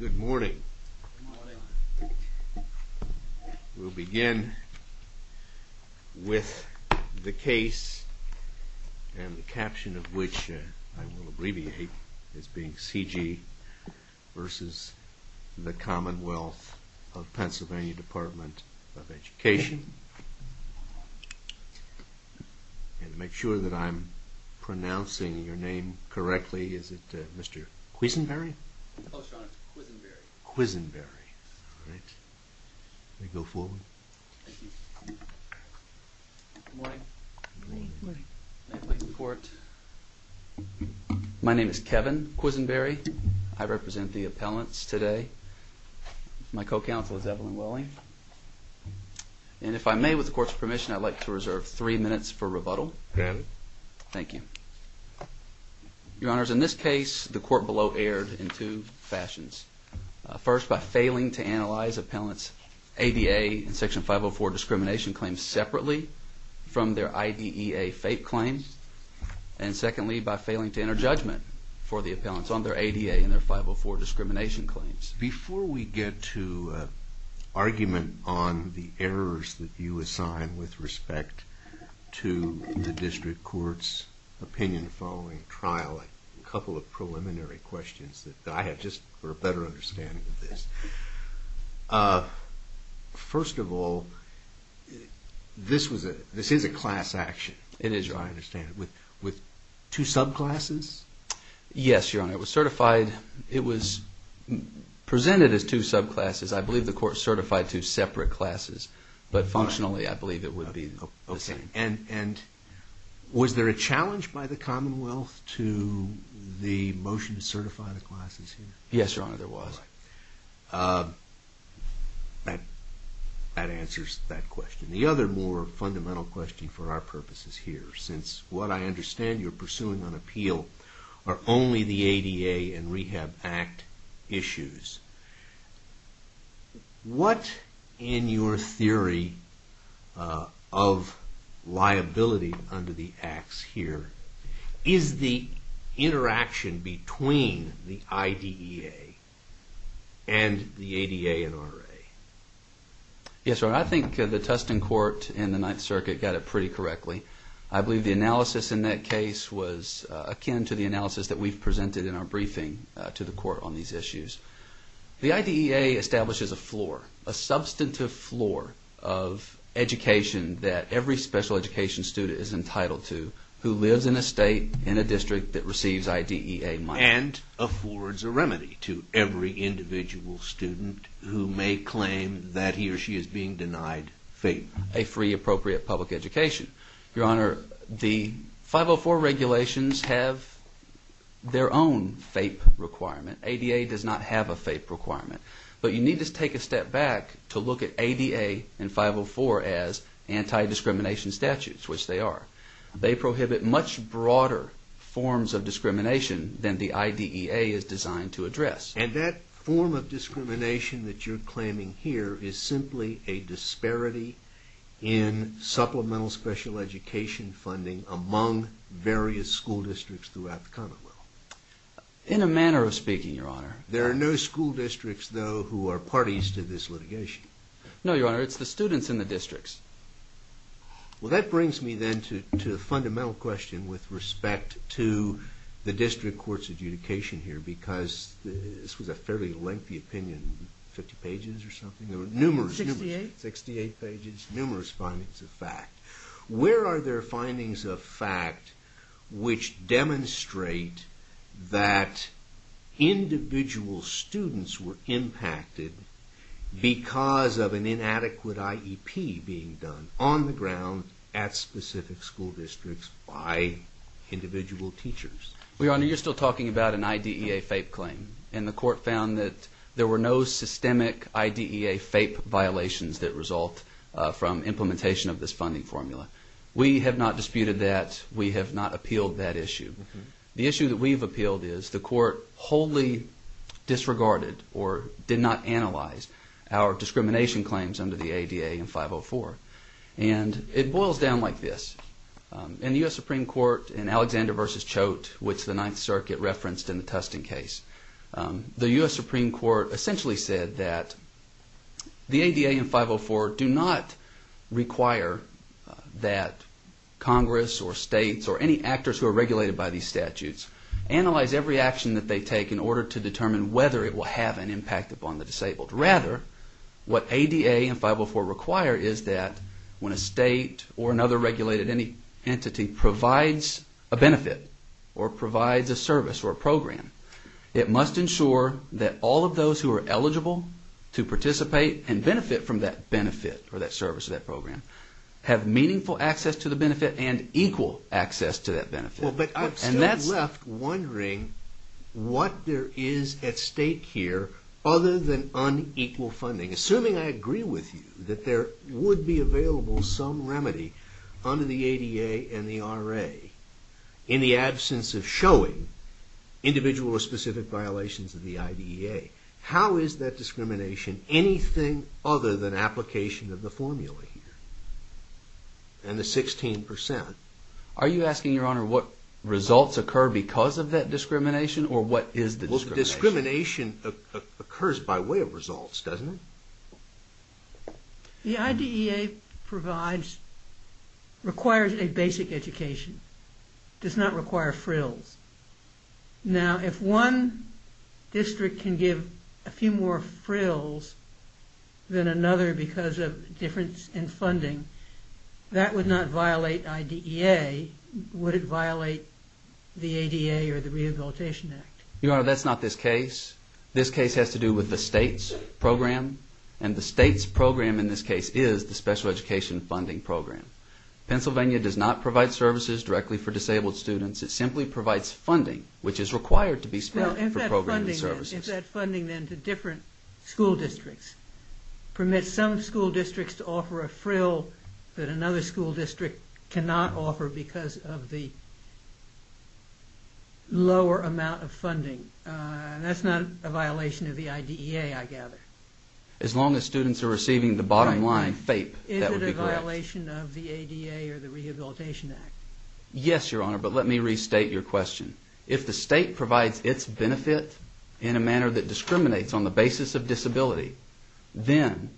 Good morning. We'll begin with the case and the caption of which I will abbreviate as being C.G. versus the Commonwealth of Pennsylvania Department of Education. And to make sure that I'm pronouncing your name correctly, is it Mr. Quisenberry? Mr. Quisenberry. My name is Kevin Quisenberry. I represent the appellants today. My co-counsel is Evelyn Welling. And if I may, with the court's permission, I'd like to reserve three minutes for rebuttal. Thank you. Your Honors, in this case, the court below erred in two fashions. First, by failing to analyze appellants' ADA and Section 504 discrimination claims separately from their IDEA fake claims. And secondly, by failing to enter judgment for the appellants on their ADA and their 504 discrimination claims. Before we get to argument on the errors that you assign with respect to the district court's opinion following trial, a couple of preliminary questions that I have just for a better understanding of this. First of all, this is a class action, as I understand it, with two subclasses? Yes, Your Honor. It was presented as two subclasses. I believe the court certified two separate classes. But functionally, I believe it would be the same. And was there a challenge by the Commonwealth to the motion to certify the classes here? Yes, Your Honor, there was. That answers that question. The other more fundamental question for our purposes here, since what I understand you're pursuing on appeal are only the ADA and Rehab Act issues. What, in your theory of liability under the Acts here, is the interaction between the IDEA and the ADA and RA? Yes, Your Honor, I think the Tustin court in the Ninth Circuit got it pretty correctly. I believe the analysis in that case was akin to the analysis that we've presented in our briefing to the court on these issues. The IDEA establishes a floor, a substantive floor of education that every special education student is entitled to who lives in a state, in a district that receives IDEA money. And affords a remedy to every individual student who may claim that he or she is being denied FAPE. A free appropriate public education. Your Honor, the 504 regulations have their own FAPE requirement. ADA does not have a FAPE requirement. But you need to take a step back to look at ADA and 504 as anti-discrimination statutes, which they are. They prohibit much broader forms of discrimination than the IDEA is designed to address. And that form of discrimination that you're claiming here is simply a disparity in supplemental special education funding among various school districts throughout the Commonwealth? In a manner of speaking, Your Honor. There are no school districts, though, who are parties to this litigation? No, Your Honor. It's the students in the districts. Well, that brings me then to a fundamental question with respect to the district court's adjudication here, because this was a fairly lengthy opinion. Fifty pages or something? Numerous. Sixty-eight. Sixty-eight pages. Numerous findings of fact. Where are there findings of fact which demonstrate that individual students were impacted because of an inadequate IEP being done on the ground at specific school districts by individual teachers? Well, Your Honor, you're still talking about an IDEA FAPE claim. And the court found that there were no systemic IDEA FAPE violations that result from implementation of this funding formula. We have not disputed that. We have not appealed that issue. The issue that we've appealed is the court wholly disregarded or did not analyze our discrimination claims under the ADA and 504. And it boils down like this. In the U.S. Supreme Court in Alexander v. Choate, which the Ninth Circuit referenced in the Tustin case, the U.S. Supreme Court essentially said that the ADA and 504 do not require that Congress or states or any actors who are regulated by these statutes analyze every action that they take in order to determine whether it will have an impact upon the disabled. Rather, what ADA and 504 require is that when a state or another regulated entity provides a benefit or provides a service or a program, it must ensure that all of those who are eligible to participate and benefit from that benefit or that service or that program have meaningful access to the benefit and equal access to that benefit. Well, but I'm still left wondering what there is at stake here other than unequal funding. Assuming I agree with you that there would be available some remedy under the ADA and the RA in the absence of showing individual or specific violations of the IDEA, how is that discrimination anything other than application of the formula here and the 16 percent? Are you asking, Your Honor, what results occur because of that discrimination or what is the discrimination? Well, the discrimination occurs by way of results, doesn't it? The IDEA requires a basic education. It does not require frills. Now, if one district can give a few more frills than another because of difference in funding, that would not violate IDEA. Would it violate the ADA or the Rehabilitation Act? Your Honor, that's not this case. This case has to do with the state's program, and the state's program in this case is the special education funding program. Pennsylvania does not provide services directly for disabled students. It simply provides funding, which is required to be spent for programs and services. If that funding then to different school districts permits some school districts to offer a frill that another school district cannot offer because of the lower amount of funding, that's not a violation of the IDEA, I gather? As long as students are receiving the bottom line FAPE, that would be correct. Is it a violation of the ADA or the Rehabilitation Act? Yes, Your Honor, but let me restate your question. If the state provides its benefit in a manner that discriminates on the basis of disability, then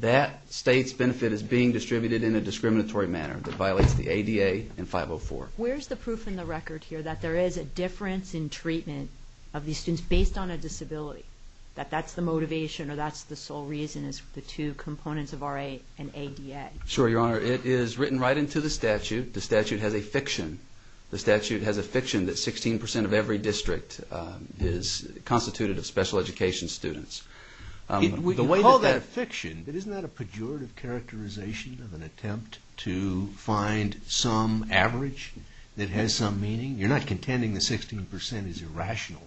that state's benefit is being distributed in a discriminatory manner that violates the ADA and 504. Where's the proof in the record here that there is a difference in treatment of these students based on a disability? That that's the motivation or that's the sole reason is the two components of RA and ADA? Sure, Your Honor. It is written right into the statute. The statute has a fiction. The statute has a fiction that 16% of every district is constituted of special education students. We call that fiction, but isn't that a pejorative characterization of an attempt to find some average that has some meaning? You're not contending that 16% is irrational?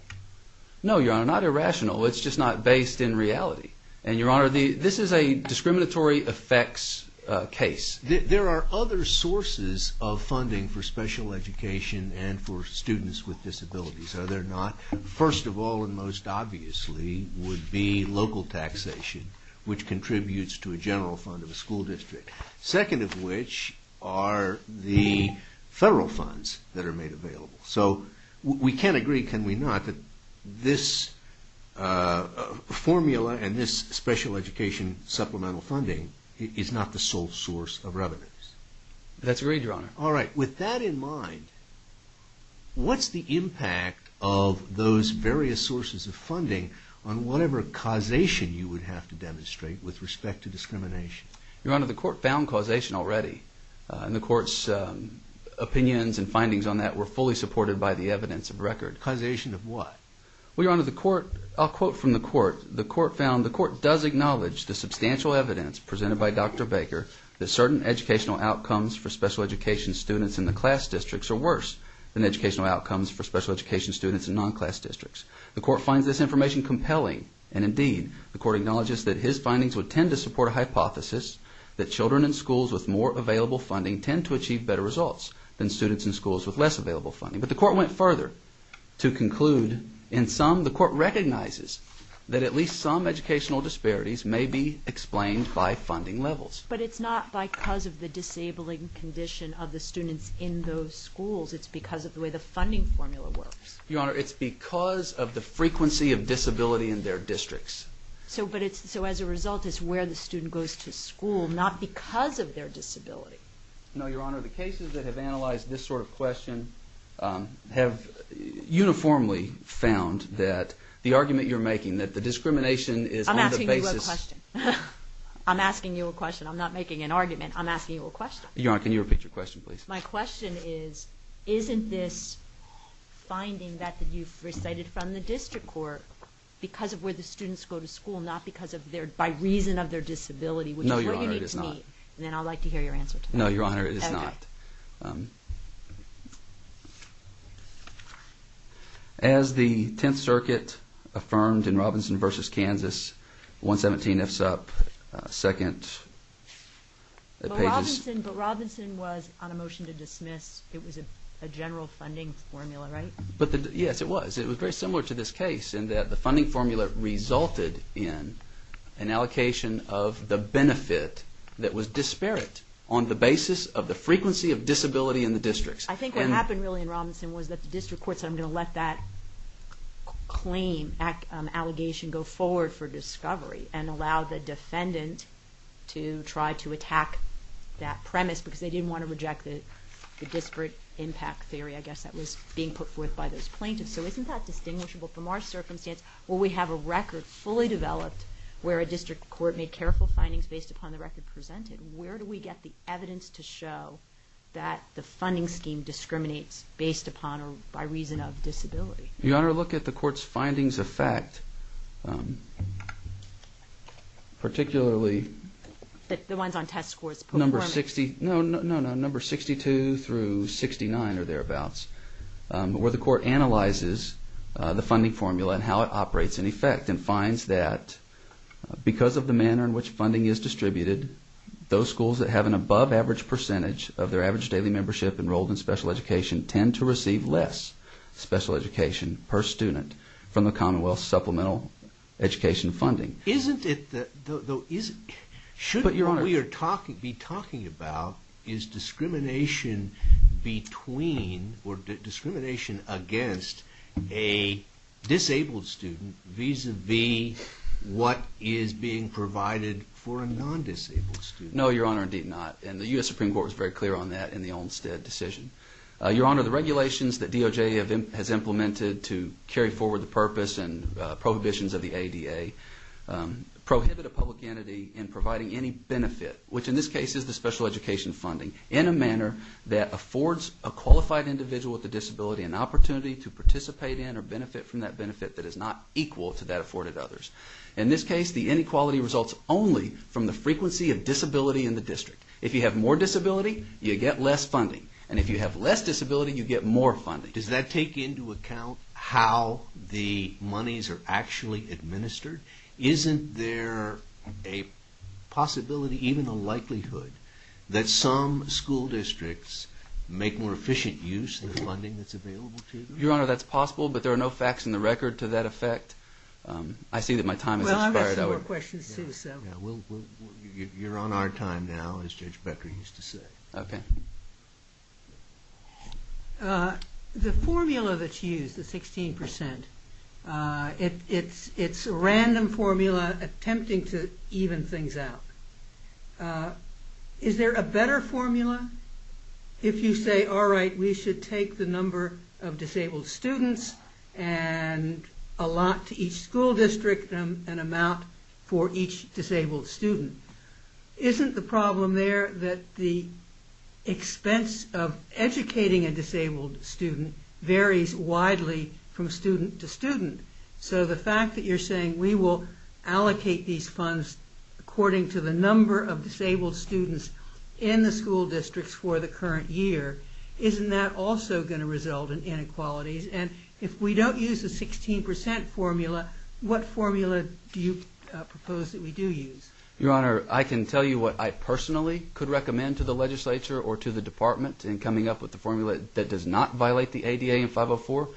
No, Your Honor, not irrational. It's just not based in reality. And, Your Honor, this is a discriminatory effects case. There are other sources of funding for special education and for students with disabilities, are there not? First of all and most obviously would be local taxation, which contributes to a general fund of a school district. Second of which are the federal funds that are made available. So we can't agree, can we not, that this formula and this special education supplemental funding is not the sole source of revenues? That's right, Your Honor. All right. With that in mind, what's the impact of those various sources of funding on whatever causation you would have to demonstrate with respect to discrimination? Your Honor, the court found causation already. And the court's opinions and findings on that were fully supported by the evidence of record. Causation of what? Well, Your Honor, the court, I'll quote from the court, the court found, the court does acknowledge the substantial evidence presented by Dr. Baker that certain educational outcomes for special education students in the class districts are worse than educational outcomes for special education students in non-class districts. The court finds this information compelling. And indeed, the court acknowledges that his findings would tend to support a hypothesis that children in schools with more available funding tend to achieve better results than students in schools with less available funding. But the court went further to conclude, in sum, the court recognizes that at least some educational disparities may be explained by funding levels. But it's not because of the disabling condition of the students in those schools. It's because of the way the funding formula works. Your Honor, it's because of the frequency of disability in their districts. So as a result, it's where the student goes to school, not because of their disability. No, Your Honor, the cases that have analyzed this sort of question have uniformly found that the argument you're making, that the discrimination is on the basis... I'm asking you a question. I'm asking you a question. I'm not making an argument. I'm asking you a question. Your Honor, can you repeat your question, please? My question is, isn't this finding that you've recited from the district court because of where the students go to school, not because of their... by reason of their disability? No, Your Honor, it is not. Then I'd like to hear your answer to that. No, Your Honor, it is not. As the Tenth Circuit affirmed in Robinson v. Kansas, 117 FSUP, second page is... But Robinson was on a motion to dismiss. It was a general funding formula, right? Yes, it was. It was very similar to this case in that the funding formula resulted in an allocation of the benefit that was disparate on the basis of the frequency of disability in the districts. I think what happened really in Robinson was that the district court said, I'm going to let that claim, allegation go forward for discovery and allow the defendant to try to attack that premise because they didn't want to reject the disparate impact theory, I guess, that was being put forth by those plaintiffs. So isn't that distinguishable from our circumstance where we have a record fully developed where a district court made careful findings based upon the record presented? Where do we get the evidence to show that the funding scheme discriminates based upon or by reason of disability? Your Honor, look at the court's findings of fact, particularly... The ones on test scores performance? No, no, no, number 62 through 69 or thereabouts, where the court analyzes the funding formula and how it operates in effect and finds that because of the manner in which funding is distributed, those schools that have an above average percentage of their average daily membership enrolled in special education tend to receive less special education per student from the commonwealth supplemental education funding. Shouldn't we be talking about is discrimination between or discrimination against a disabled student vis-a-vis what is being provided for a non-disabled student? No, Your Honor, indeed not. And the U.S. Supreme Court was very clear on that in the Olmstead decision. Your Honor, the regulations that DOJ has implemented to carry forward the purpose and prohibitions of the ADA prohibit a public entity in providing any benefit, which in this case is the special education funding, in a manner that affords a qualified individual with a disability an opportunity to participate in or benefit from that benefit that is not equal to that afforded to others. In this case, the inequality results only from the frequency of disability in the district. If you have more disability, you get less funding. And if you have less disability, you get more funding. Does that take into account how the monies are actually administered? Isn't there a possibility, even a likelihood, that some school districts make more efficient use of the funding that's available to them? Your Honor, that's possible, but there are no facts in the record to that effect. I see that my time has expired. Well, I've got some more questions, too, so... You're on our time now, as Judge Becker used to say. Okay. The formula that's used, the 16%, it's a random formula attempting to even things out. Is there a better formula? If you say, all right, we should take the number of disabled students and allot to each school district an amount for each disabled student. Isn't the problem there that the expense of educating a disabled student varies widely from student to student? So the fact that you're saying we will allocate these funds according to the number of disabled students in the school districts for the current year, isn't that also going to result in inequalities? And if we don't use the 16% formula, what formula do you propose that we do use? Your Honor, I can tell you what I personally could recommend to the legislature or to the department in coming up with the formula that does not violate the ADA in 504.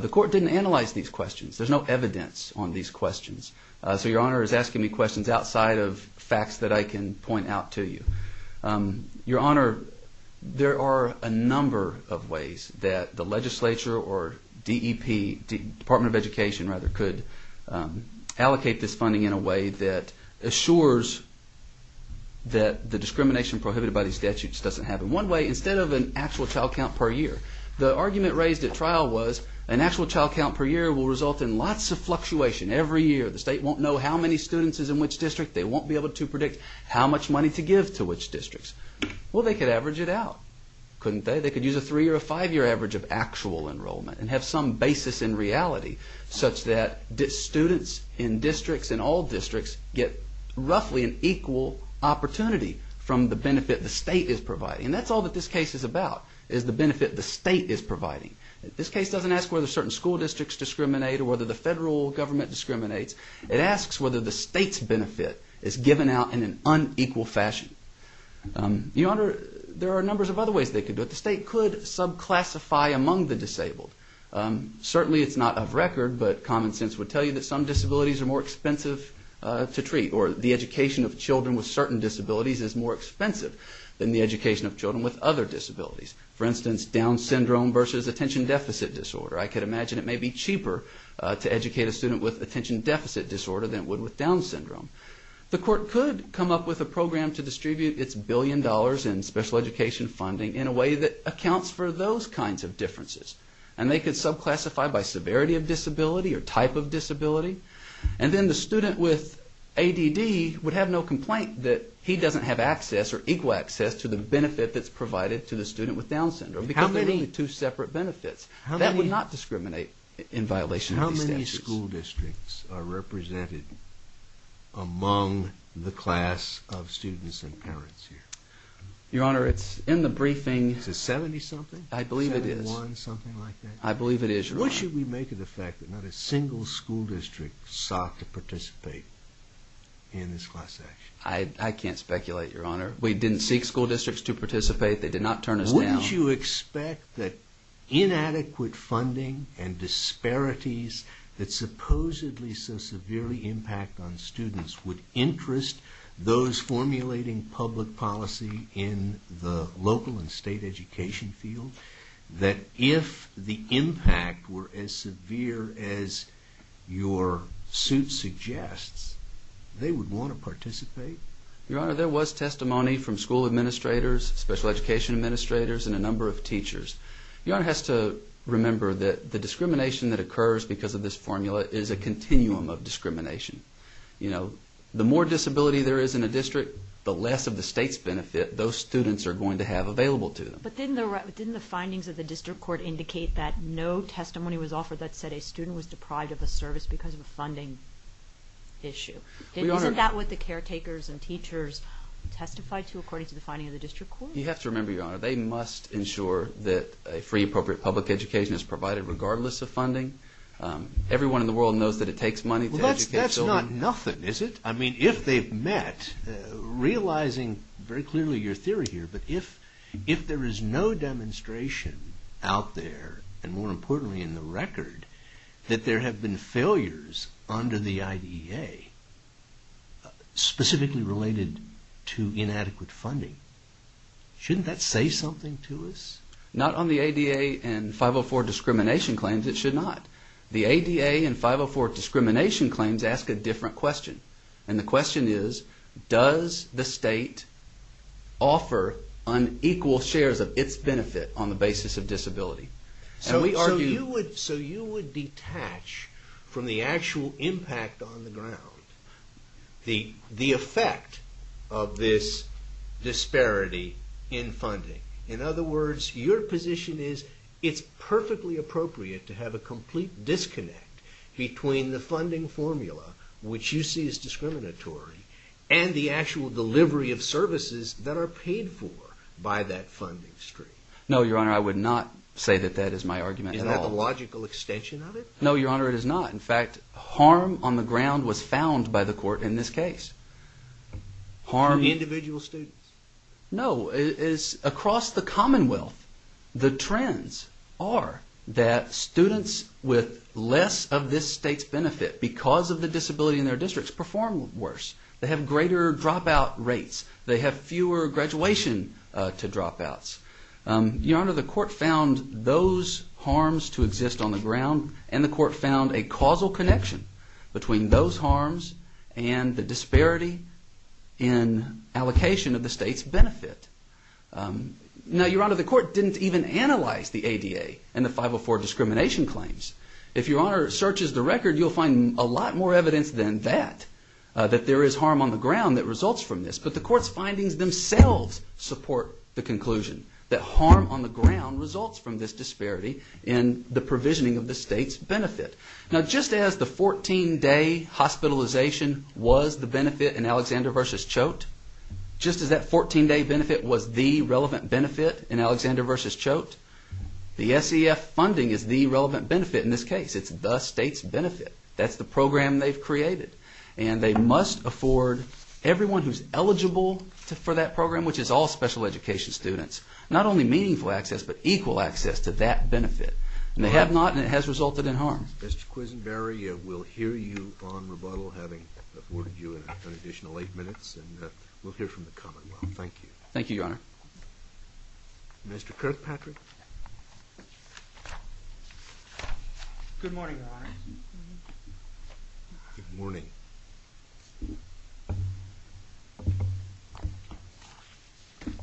The court didn't analyze these questions. There's no evidence on these questions. So Your Honor is asking me questions outside of facts that I can point out to you. Your Honor, there are a number of ways that the legislature or DEP, Department of Education rather, could allocate this funding in a way that assures that the discrimination prohibited by these statutes doesn't happen. One way, instead of an actual child count per year. The argument raised at trial was an actual child count per year will result in lots of fluctuation every year. The state won't know how many students is in which district. They won't be able to predict how much money to give to which districts. Well, they could average it out, couldn't they? They could use a three-year or five-year average of actual enrollment and have some basis in reality such that students in districts, in all districts, get roughly an equal opportunity from the benefit the state is providing. And that's all that this case is about, is the benefit the state is providing. This case doesn't ask whether certain school districts discriminate or whether the federal government discriminates. It asks whether the state's benefit is given out in an unequal fashion. Your Honor, there are numbers of other ways they could do it. The state could subclassify among the disabled. Certainly it's not of record, but common sense would tell you that some disabilities are more expensive to treat. Or the education of children with certain disabilities is more expensive than the education of children with other disabilities. For instance, Down Syndrome versus Attention Deficit Disorder. I could imagine it may be cheaper to educate a student with Attention Deficit Disorder than it would with Down Syndrome. The court could come up with a program to distribute its billion dollars in special education funding in a way that accounts for those kinds of differences. And they could subclassify by severity of disability or type of disability. And then the student with ADD would have no complaint that he doesn't have access or equal access to the benefit that's provided to the student with Down Syndrome. How many? Because there are only two separate benefits. That would not discriminate in violation of these statutes. How many school districts are represented among the class of students and parents here? Your Honor, it's in the briefing. Is it 70-something? I believe it is. 71-something like that? I believe it is, Your Honor. What should we make of the fact that not a single school district sought to participate in this class action? I can't speculate, Your Honor. We didn't seek school districts to participate. They did not turn us down. Wouldn't you expect that inadequate funding and disparities that supposedly so severely impact on students would interest those formulating public policy in the local and state education field? That if the impact were as severe as your suit suggests, they would want to participate? Your Honor, there was testimony from school administrators, special education administrators, and a number of teachers. Your Honor has to remember that the discrimination that occurs because of this formula is a continuum of discrimination. You know, the more disability there is in a district, the less of the state's benefit those students are going to have available to them. But didn't the findings of the district court indicate that no testimony was offered that said a student was deprived of a service because of a funding issue? Isn't that what the caretakers and teachers testified to according to the finding of the district court? You have to remember, Your Honor, they must ensure that a free, appropriate public education is provided regardless of funding. Everyone in the world knows that it takes money to educate children. That's not nothing, is it? I mean, if they've met, realizing very clearly your theory here, but if there is no demonstration out there, and more importantly in the record, that there have been failures under the IDA specifically related to inadequate funding, shouldn't that say something to us? Not on the ADA and 504 discrimination claims, it should not. The ADA and 504 discrimination claims ask a different question. And the question is, does the state offer unequal shares of its benefit on the basis of disability? So you would detach from the actual impact on the ground, the effect of this disparity in funding. In other words, your position is it's perfectly appropriate to have a complete disconnect between the funding formula, which you see as discriminatory, and the actual delivery of services that are paid for by that funding stream. No, Your Honor, I would not say that that is my argument at all. Is that the logical extension of it? No, Your Honor, it is not. In fact, harm on the ground was found by the court in this case. To individual students? No, it is across the commonwealth. The trends are that students with less of this state's benefit because of the disability in their districts perform worse. They have greater dropout rates. They have fewer graduation to dropouts. Your Honor, the court found those harms to exist on the ground, and the court found a causal connection between those harms and the disparity in allocation of the state's benefit. Now, Your Honor, the court didn't even analyze the ADA and the 504 discrimination claims. If Your Honor searches the record, you'll find a lot more evidence than that, that there is harm on the ground that results from this. But the court's findings themselves support the conclusion that harm on the ground results from this disparity in the provisioning of the state's benefit. Now, just as the 14-day hospitalization was the benefit in Alexander v. Choate, just as that 14-day benefit was the relevant benefit in Alexander v. Choate, the SEF funding is the relevant benefit in this case. It's the state's benefit. That's the program they've created. And they must afford everyone who's eligible for that program, which is all special education students, not only meaningful access, but equal access to that benefit. And they have not, and it has resulted in harm. Mr. Quisenberry, we'll hear you on rebuttal, having afforded you an additional eight minutes. And we'll hear from the commonwealth. Thank you. Thank you, Your Honor. Mr. Kirkpatrick? Good morning, Your Honor. Good morning.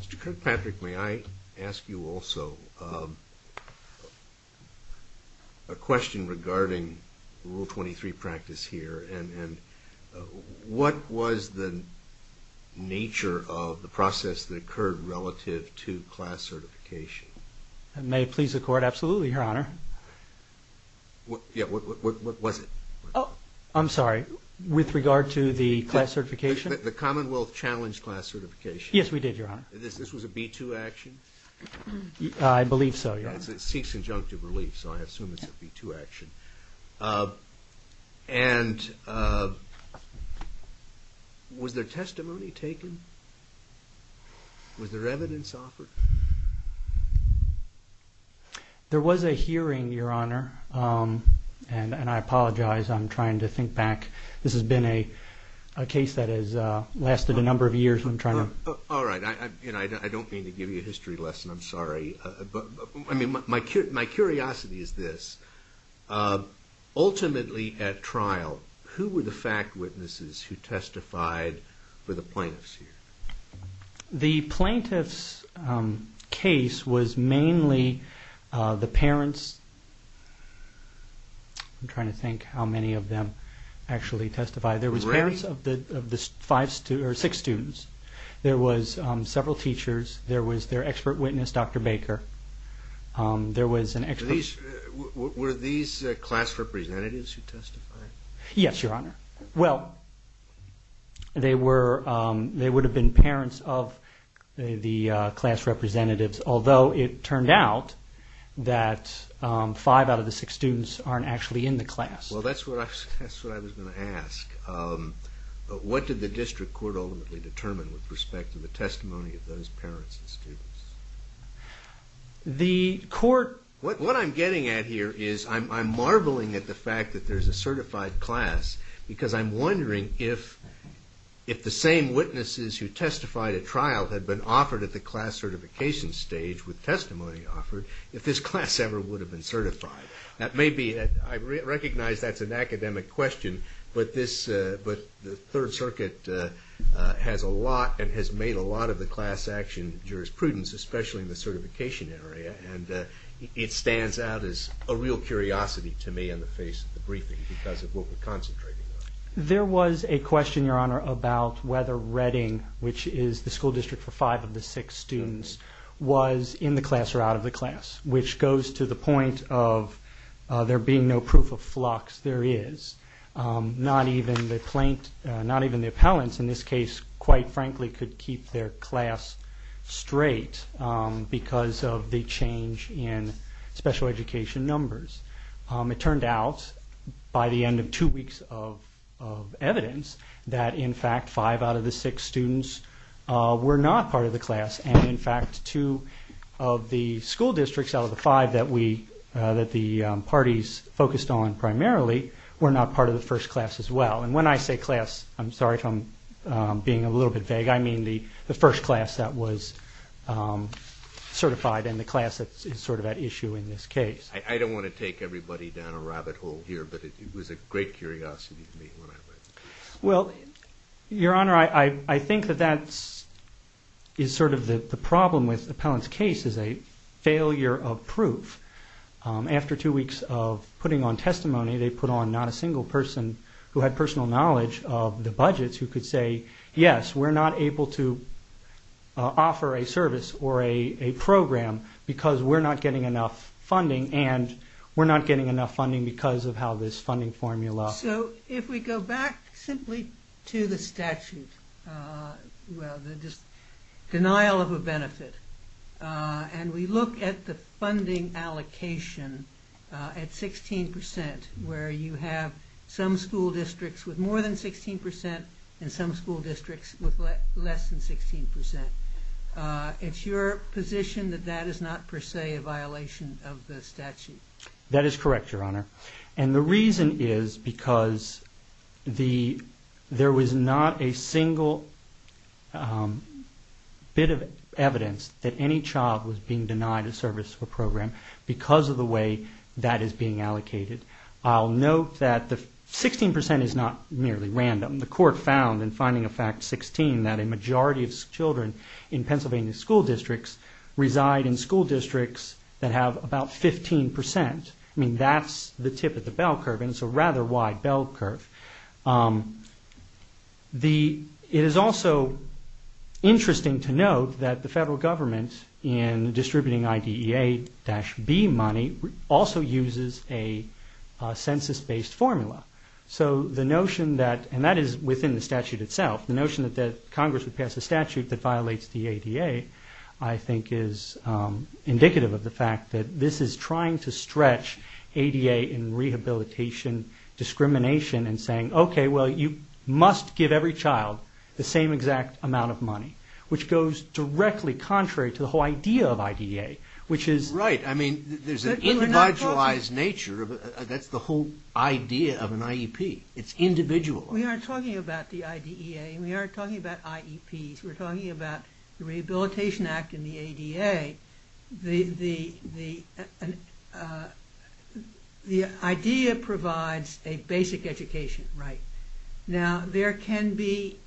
Mr. Kirkpatrick, may I ask you also a question regarding Rule 23 practice here? And what was the nature of the process that occurred relative to class certification? May it please the Court? Absolutely, Your Honor. Yeah, what was it? I'm sorry, with regard to the class certification? The commonwealth challenged class certification. Yes, we did, Your Honor. This was a B-2 action? I believe so, Your Honor. It seeks injunctive relief, so I assume it's a B-2 action. And was there testimony taken? Was there evidence offered? There was a hearing, Your Honor, and I apologize. I'm trying to think back. This has been a case that has lasted a number of years. All right. I don't mean to give you a history lesson. I'm sorry. My curiosity is this. Ultimately at trial, who were the fact witnesses who testified for the plaintiffs here? The plaintiffs' case was mainly the parents. I'm trying to think how many of them actually testified. There was parents of six students. There was several teachers. There was their expert witness, Dr. Baker. There was an expert witness. Were these class representatives who testified? Yes, Your Honor. Well, they would have been parents of the class representatives, although it turned out that five out of the six students aren't actually in the class. Well, that's what I was going to ask. What did the district court ultimately determine with respect to the testimony of those parents and students? What I'm getting at here is I'm marveling at the fact that there's a certified class because I'm wondering if the same witnesses who testified at trial had been offered at the class certification stage with testimony offered, if this class ever would have been certified. I recognize that's an academic question, but the Third Circuit has a lot and has made a lot of the class action jurisprudence, especially in the certification area, and it stands out as a real curiosity to me on the face of the briefing because of what we're concentrating on. There was a question, Your Honor, about whether Redding, which is the school district for five of the six students, was in the class or out of the class, which goes to the point of there being no proof of flux. There is. Not even the plaintiffs, not even the appellants in this case, quite frankly, could keep their class straight because of the change in special education numbers. It turned out by the end of two weeks of evidence that, in fact, five out of the six students were not part of the class, and, in fact, two of the school districts out of the five that the parties focused on primarily were not part of the first class as well. And when I say class, I'm sorry if I'm being a little bit vague. I mean the first class that was certified and the class that is sort of at issue in this case. I don't want to take everybody down a rabbit hole here, but it was a great curiosity to me when I read it. Well, Your Honor, I think that that is sort of the problem with the appellant's case is a failure of proof. After two weeks of putting on testimony, they put on not a single person who had personal knowledge of the budgets who could say, yes, we're not able to offer a service or a program because we're not getting enough funding, and we're not getting enough funding because of how this funding formula works. So if we go back simply to the statute, the denial of a benefit, and we look at the funding allocation at 16 percent where you have some school districts with more than 16 percent and some school districts with less than 16 percent, it's your position that that is not per se a violation of the statute? That is correct, Your Honor. And the reason is because there was not a single bit of evidence that any child was being denied a service or program because of the way that is being allocated. I'll note that the 16 percent is not merely random. The court found in Finding a Fact 16 that a majority of children in Pennsylvania school districts reside in school districts that have about 15 percent. I mean, that's the tip of the bell curve, and it's a rather wide bell curve. It is also interesting to note that the federal government, in distributing IDEA-B money, also uses a census-based formula. So the notion that, and that is within the statute itself, the notion that Congress would pass a statute that violates the ADA, I think is indicative of the fact that this is trying to stretch ADA in rehabilitation discrimination and saying, okay, well, you must give every child the same exact amount of money, which goes directly contrary to the whole idea of IDEA, which is... Right. I mean, there's an individualized nature. That's the whole idea of an IEP. It's individual. We aren't talking about the IDEA, and we aren't talking about IEPs. We're talking about the Rehabilitation Act and the ADA. The IDEA provides a basic education, right? Now, there can be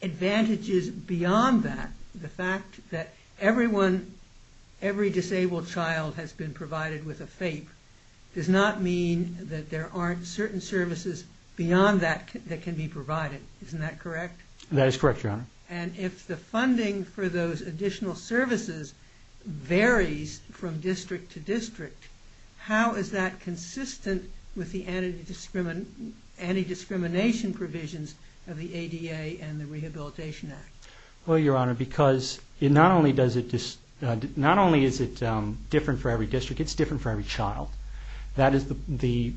advantages beyond that. The fact that everyone, every disabled child has been provided with a FAPE does not mean that there aren't certain services beyond that that can be provided. Isn't that correct? That is correct, Your Honor. And if the funding for those additional services varies from district to district, how is that consistent with the anti-discrimination provisions of the ADA and the Rehabilitation Act? Well, Your Honor, because not only is it different for every district, it's different for every child. That is the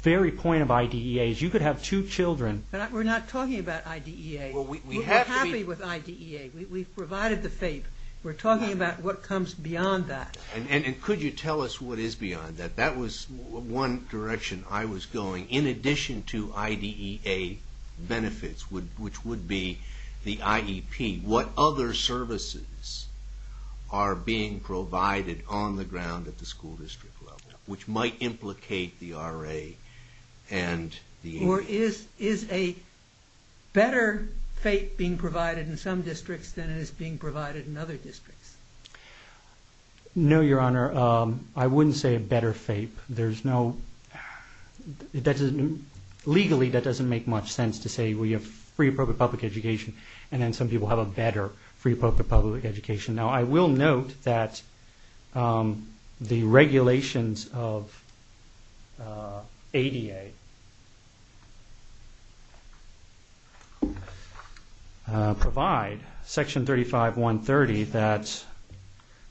very point of IDEAs. You could have two children... But we're not talking about IDEA. We're happy with IDEA. We've provided the FAPE. We're talking about what comes beyond that. And could you tell us what is beyond that? That was one direction I was going. In addition to IDEA benefits, which would be the IEP, what other services are being provided on the ground at the school district level, which might implicate the RA and the ADA? Or is a better FAPE being provided in some districts than it is being provided in other districts? No, Your Honor. I wouldn't say a better FAPE. Legally, that doesn't make much sense to say we have free public education and then some people have a better free public education. Now, I will note that the regulations of ADA provide Section 35130 that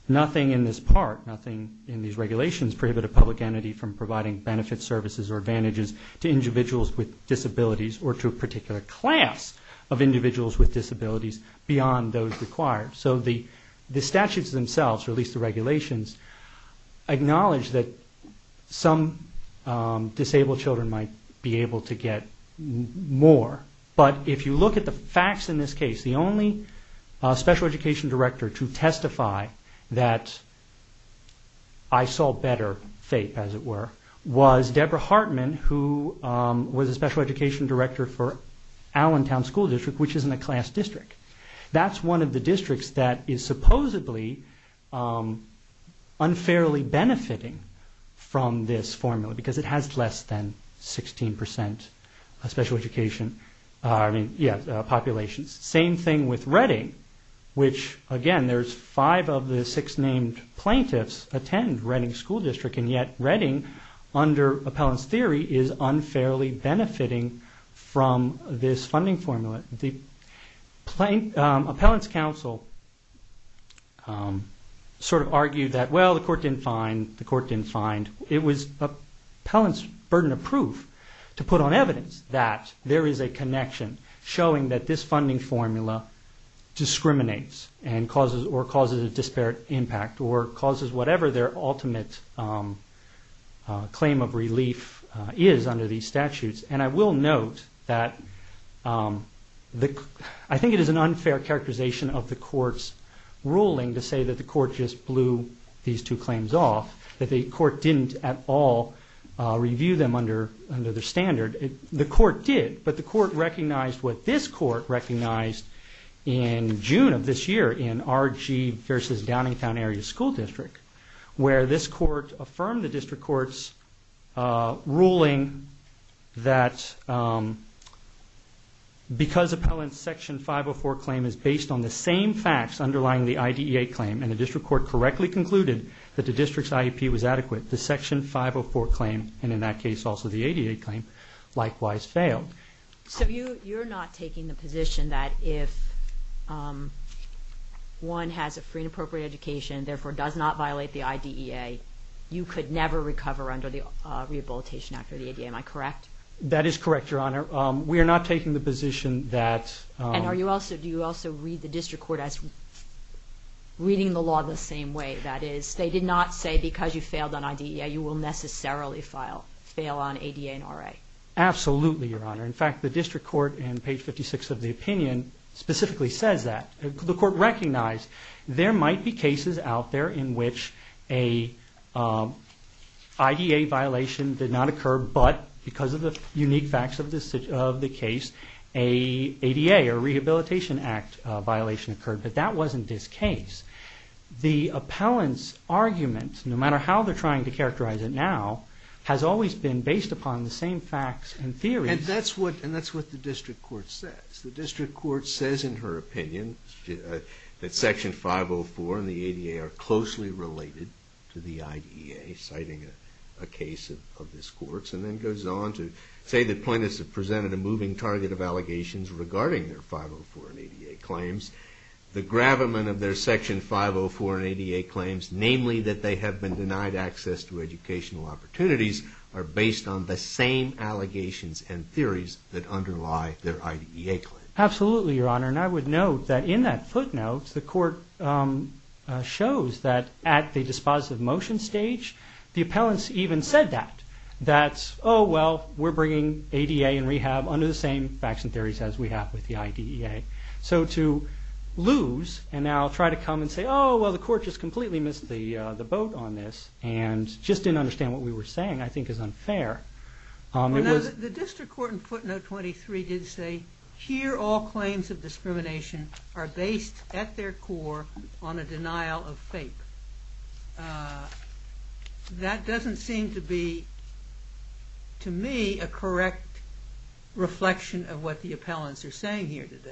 nothing in this part, nothing in these regulations prohibit a public entity from providing benefits, services, or advantages to individuals with disabilities or to a particular class of individuals with disabilities beyond those required. So the statutes themselves, or at least the regulations, acknowledge that some disabled children might be able to get more. But if you look at the facts in this case, the only special education director to testify that I saw better FAPE, as it were, was Deborah Hartman, who was a special education director for Allentown School District, which isn't a class district. That's one of the districts that is supposedly unfairly benefiting from this formula because it has less than 16% special education populations. Same thing with Redding, which, again, there's five of the six named plaintiffs attend Redding School District, and yet Redding, under appellant's theory, is unfairly benefiting from this funding formula. Appellant's counsel sort of argued that, well, the court didn't find, the court didn't find. It was appellant's burden of proof to put on evidence that there is a connection showing that this funding formula discriminates or causes a disparate impact or causes whatever their ultimate claim of relief is under these statutes. And I will note that I think it is an unfair characterization of the court's ruling to say that the court just blew these two claims off, that the court didn't at all review them under their standard. The court did, but the court recognized what this court recognized in June of this year in R.G. v. Downingtown Area School District, where this court affirmed the district court's ruling that because appellant's Section 504 claim is based on the same facts underlying the IDEA claim and the district court correctly concluded that the district's IEP was adequate, the Section 504 claim, and in that case also the IDEA claim, likewise failed. So you're not taking the position that if one has a free and appropriate education and therefore does not violate the IDEA, you could never recover under the Rehabilitation Act or the IDEA. Am I correct? That is correct, Your Honor. We are not taking the position that— And do you also read the district court as reading the law the same way? That is, they did not say because you failed on IDEA, you will necessarily fail on ADA and RA. Absolutely, Your Honor. In fact, the district court in page 56 of the opinion specifically says that. The court recognized there might be cases out there in which an IDEA violation did not occur but because of the unique facts of the case, an ADA or Rehabilitation Act violation occurred, but that wasn't this case. The appellant's argument, no matter how they're trying to characterize it now, has always been based upon the same facts and theories. And that's what the district court says. The district court says in her opinion that Section 504 and the ADA are closely related to the IDEA, citing a case of this court's, and then goes on to say that plaintiffs have presented a moving target of allegations regarding their 504 and ADA claims. The gravamen of their Section 504 and ADA claims, namely that they have been denied access to educational opportunities, are based on the same allegations and theories that underlie their IDEA claim. Absolutely, Your Honor. And I would note that in that footnote, the court shows that at the dispositive motion stage, the appellants even said that. That's, oh, well, we're bringing ADA and rehab under the same facts and theories as we have with the IDEA. So to lose and now try to come and say, oh, well, the court just completely missed the boat on this and just didn't understand what we were saying, I think is unfair. The district court in footnote 23 did say, here all claims of discrimination are based at their core on a denial of faith. That doesn't seem to be, to me, a correct reflection of what the appellants are saying here today.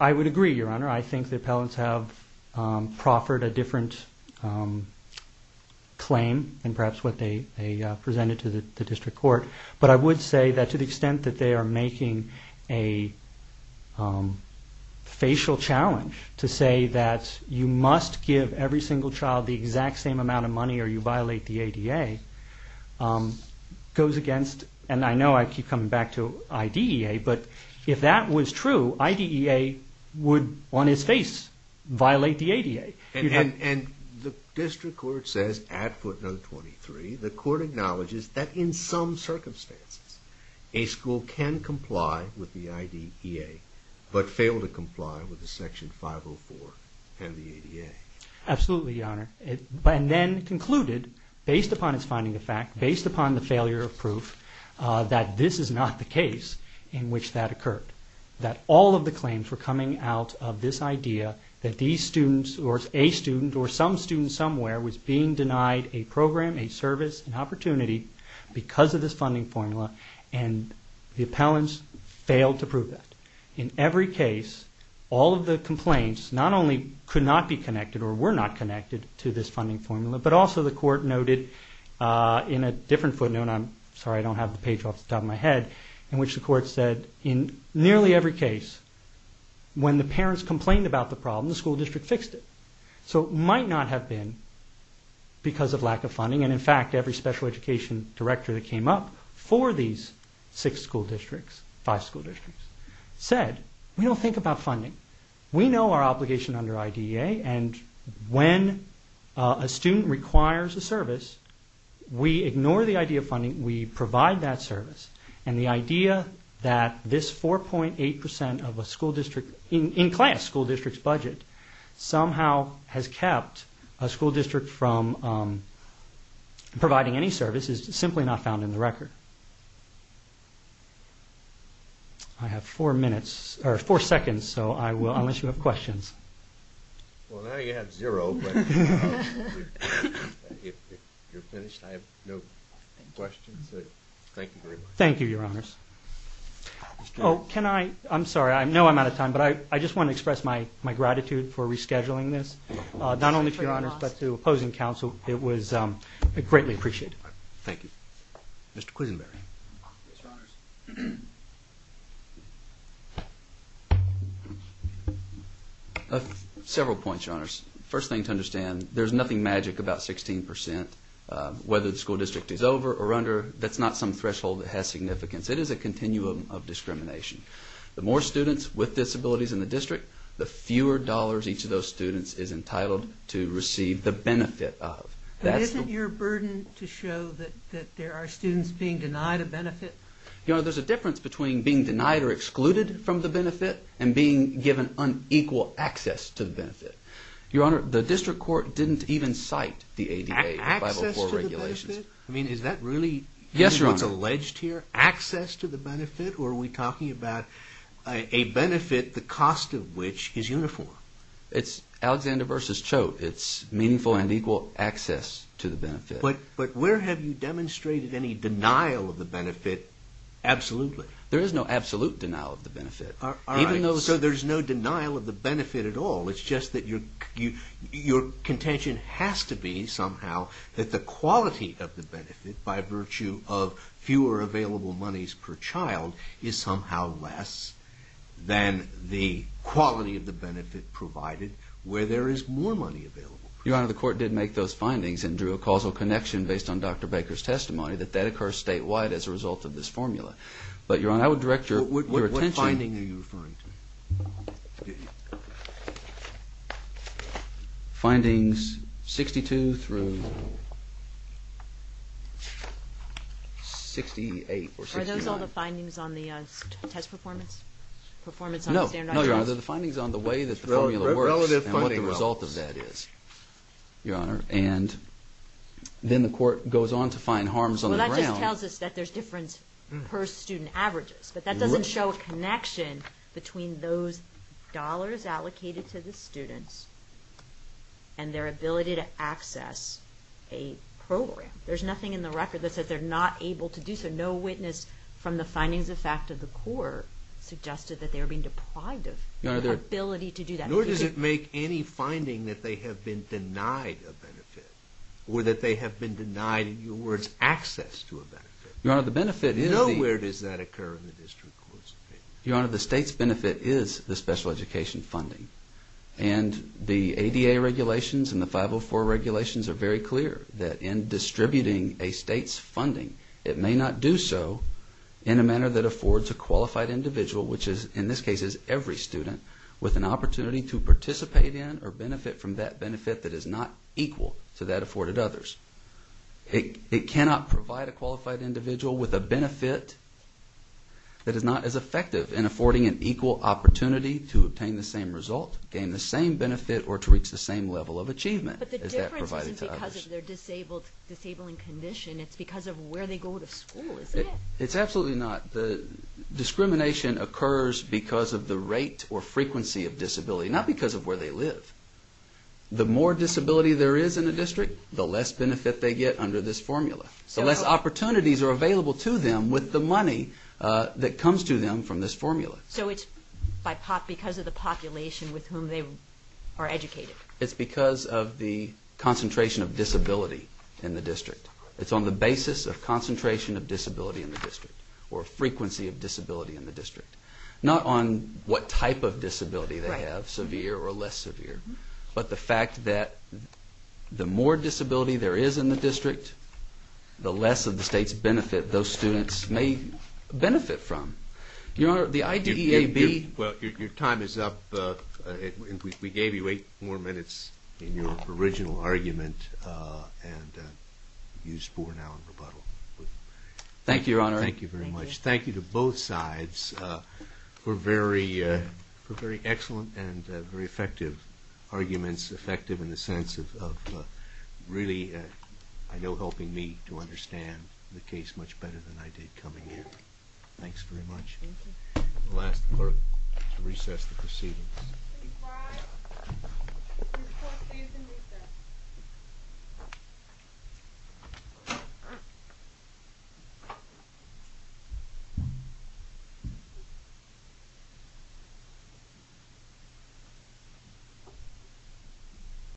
I would agree, Your Honor. I think the appellants have proffered a different claim than perhaps what they presented to the district court. But I would say that to the extent that they are making a facial challenge to say that you must give every single child the exact same amount of money or you violate the ADA, goes against, and I know I keep coming back to IDEA, but if that was true, IDEA would, on its face, violate the ADA. And the district court says at footnote 23, the court acknowledges that in some circumstances, a school can comply with the IDEA but fail to comply with the section 504 and the ADA. Absolutely, Your Honor. And then concluded, based upon its finding of fact, based upon the failure of proof, that this is not the case in which that occurred. That all of the claims were coming out of this idea that these students or a student or some student somewhere was being denied a program, a service, an opportunity because of this funding formula and the appellants failed to prove that. In every case, all of the complaints not only could not be connected or were not connected to this funding formula, but also the court noted in a different footnote, I'm sorry I don't have the page off the top of my head, in which the court said in nearly every case, when the parents complained about the problem, the school district fixed it. So it might not have been because of lack of funding, and in fact, every special education director that came up for these six school districts, five school districts, said, we don't think about funding. We know our obligation under IDEA, and when a student requires a service, we ignore the idea of funding, we provide that service. And the idea that this 4.8% of a school district, in class, school district's budget, somehow has kept a school district from providing any service is simply not found in the record. I have four minutes, or four seconds, so I will, unless you have questions. Well, now you have zero, but if you're finished, I have no questions, so thank you very much. Thank you, Your Honors. Oh, can I, I'm sorry, I know I'm out of time, but I just want to express my gratitude for rescheduling this, not only to Your Honors, but to opposing counsel. It was greatly appreciated. Thank you. Mr. Quisenberry. Yes, Your Honors. Several points, Your Honors. First thing to understand, there's nothing magic about 16%. Whether the school district is over or under, that's not some threshold that has significance. It is a continuum of discrimination. The more students with disabilities in the district, the fewer dollars each of those students is entitled to receive the benefit of. But isn't your burden to show that there are students being denied a benefit? Your Honor, there's a difference between being denied or excluded from the benefit and being given unequal access to the benefit. Your Honor, the district court didn't even cite the ADA, the 504 regulations. Access to the benefit? I mean, is that really what's alleged here? Yes, Your Honor. Access to the benefit, or are we talking about a benefit, the cost of which is uniform? It's Alexander versus Choate. It's meaningful and equal access to the benefit. But where have you demonstrated any denial of the benefit absolutely? There is no absolute denial of the benefit. All right. So there's no denial of the benefit at all. It's just that your contention has to be somehow that the quality of the benefit, by virtue of fewer available monies per child, is somehow less than the quality of the benefit provided where there is more money available. Your Honor, the court did make those findings and drew a causal connection based on Dr. Baker's testimony that that occurs statewide as a result of this formula. But, Your Honor, I would direct your attention. What finding are you referring to? Findings 62 through 68 or 69. Are those all the findings on the test performance? No. No, Your Honor, they're the findings on the way that the formula works and what the result of that is, Your Honor. And then the court goes on to find harms on the ground. Well, that just tells us that there's difference per student averages. But that doesn't show a connection between those dollars allocated to the students and their ability to access a program. There's nothing in the record that says they're not able to do so. No witness from the findings of fact of the court suggested that they were being deprived of ability to do that. Nor does it make any finding that they have been denied a benefit or that they have been denied, in your words, access to a benefit. Your Honor, the benefit is the... Your Honor, the state's benefit is the special education funding. And the ADA regulations and the 504 regulations are very clear that in distributing a state's funding, it may not do so in a manner that affords a qualified individual, which is, in this case, every student, with an opportunity to participate in or benefit from that benefit that is not equal to that afforded others. It cannot provide a qualified individual with a benefit that is not as effective in affording an equal opportunity to obtain the same result, gain the same benefit, or to reach the same level of achievement as that provided to others. But the difference isn't because of their disabling condition. It's because of where they go to school, isn't it? It's absolutely not. The discrimination occurs because of the rate or frequency of disability, not because of where they live. The more disability there is in a district, the less benefit they get under this formula. So less opportunities are available to them with the money that comes to them from this formula. So it's because of the population with whom they are educated. It's because of the concentration of disability in the district. It's on the basis of concentration of disability in the district or frequency of disability in the district, not on what type of disability they have, severe or less severe, but the fact that the more disability there is in the district, the less of the state's benefit those students may benefit from. Your Honor, the IDEAB... Well, your time is up. We gave you eight more minutes in your original argument and you spore now in rebuttal. Thank you, Your Honor. Thank you very much. Thank you to both sides for very excellent and very effective arguments, effective in the sense of really, I know, helping me to understand the case much better than I did coming here. Thanks very much. Thank you. I'll ask the clerk to recess the proceedings. Please rise. The court stays in recess.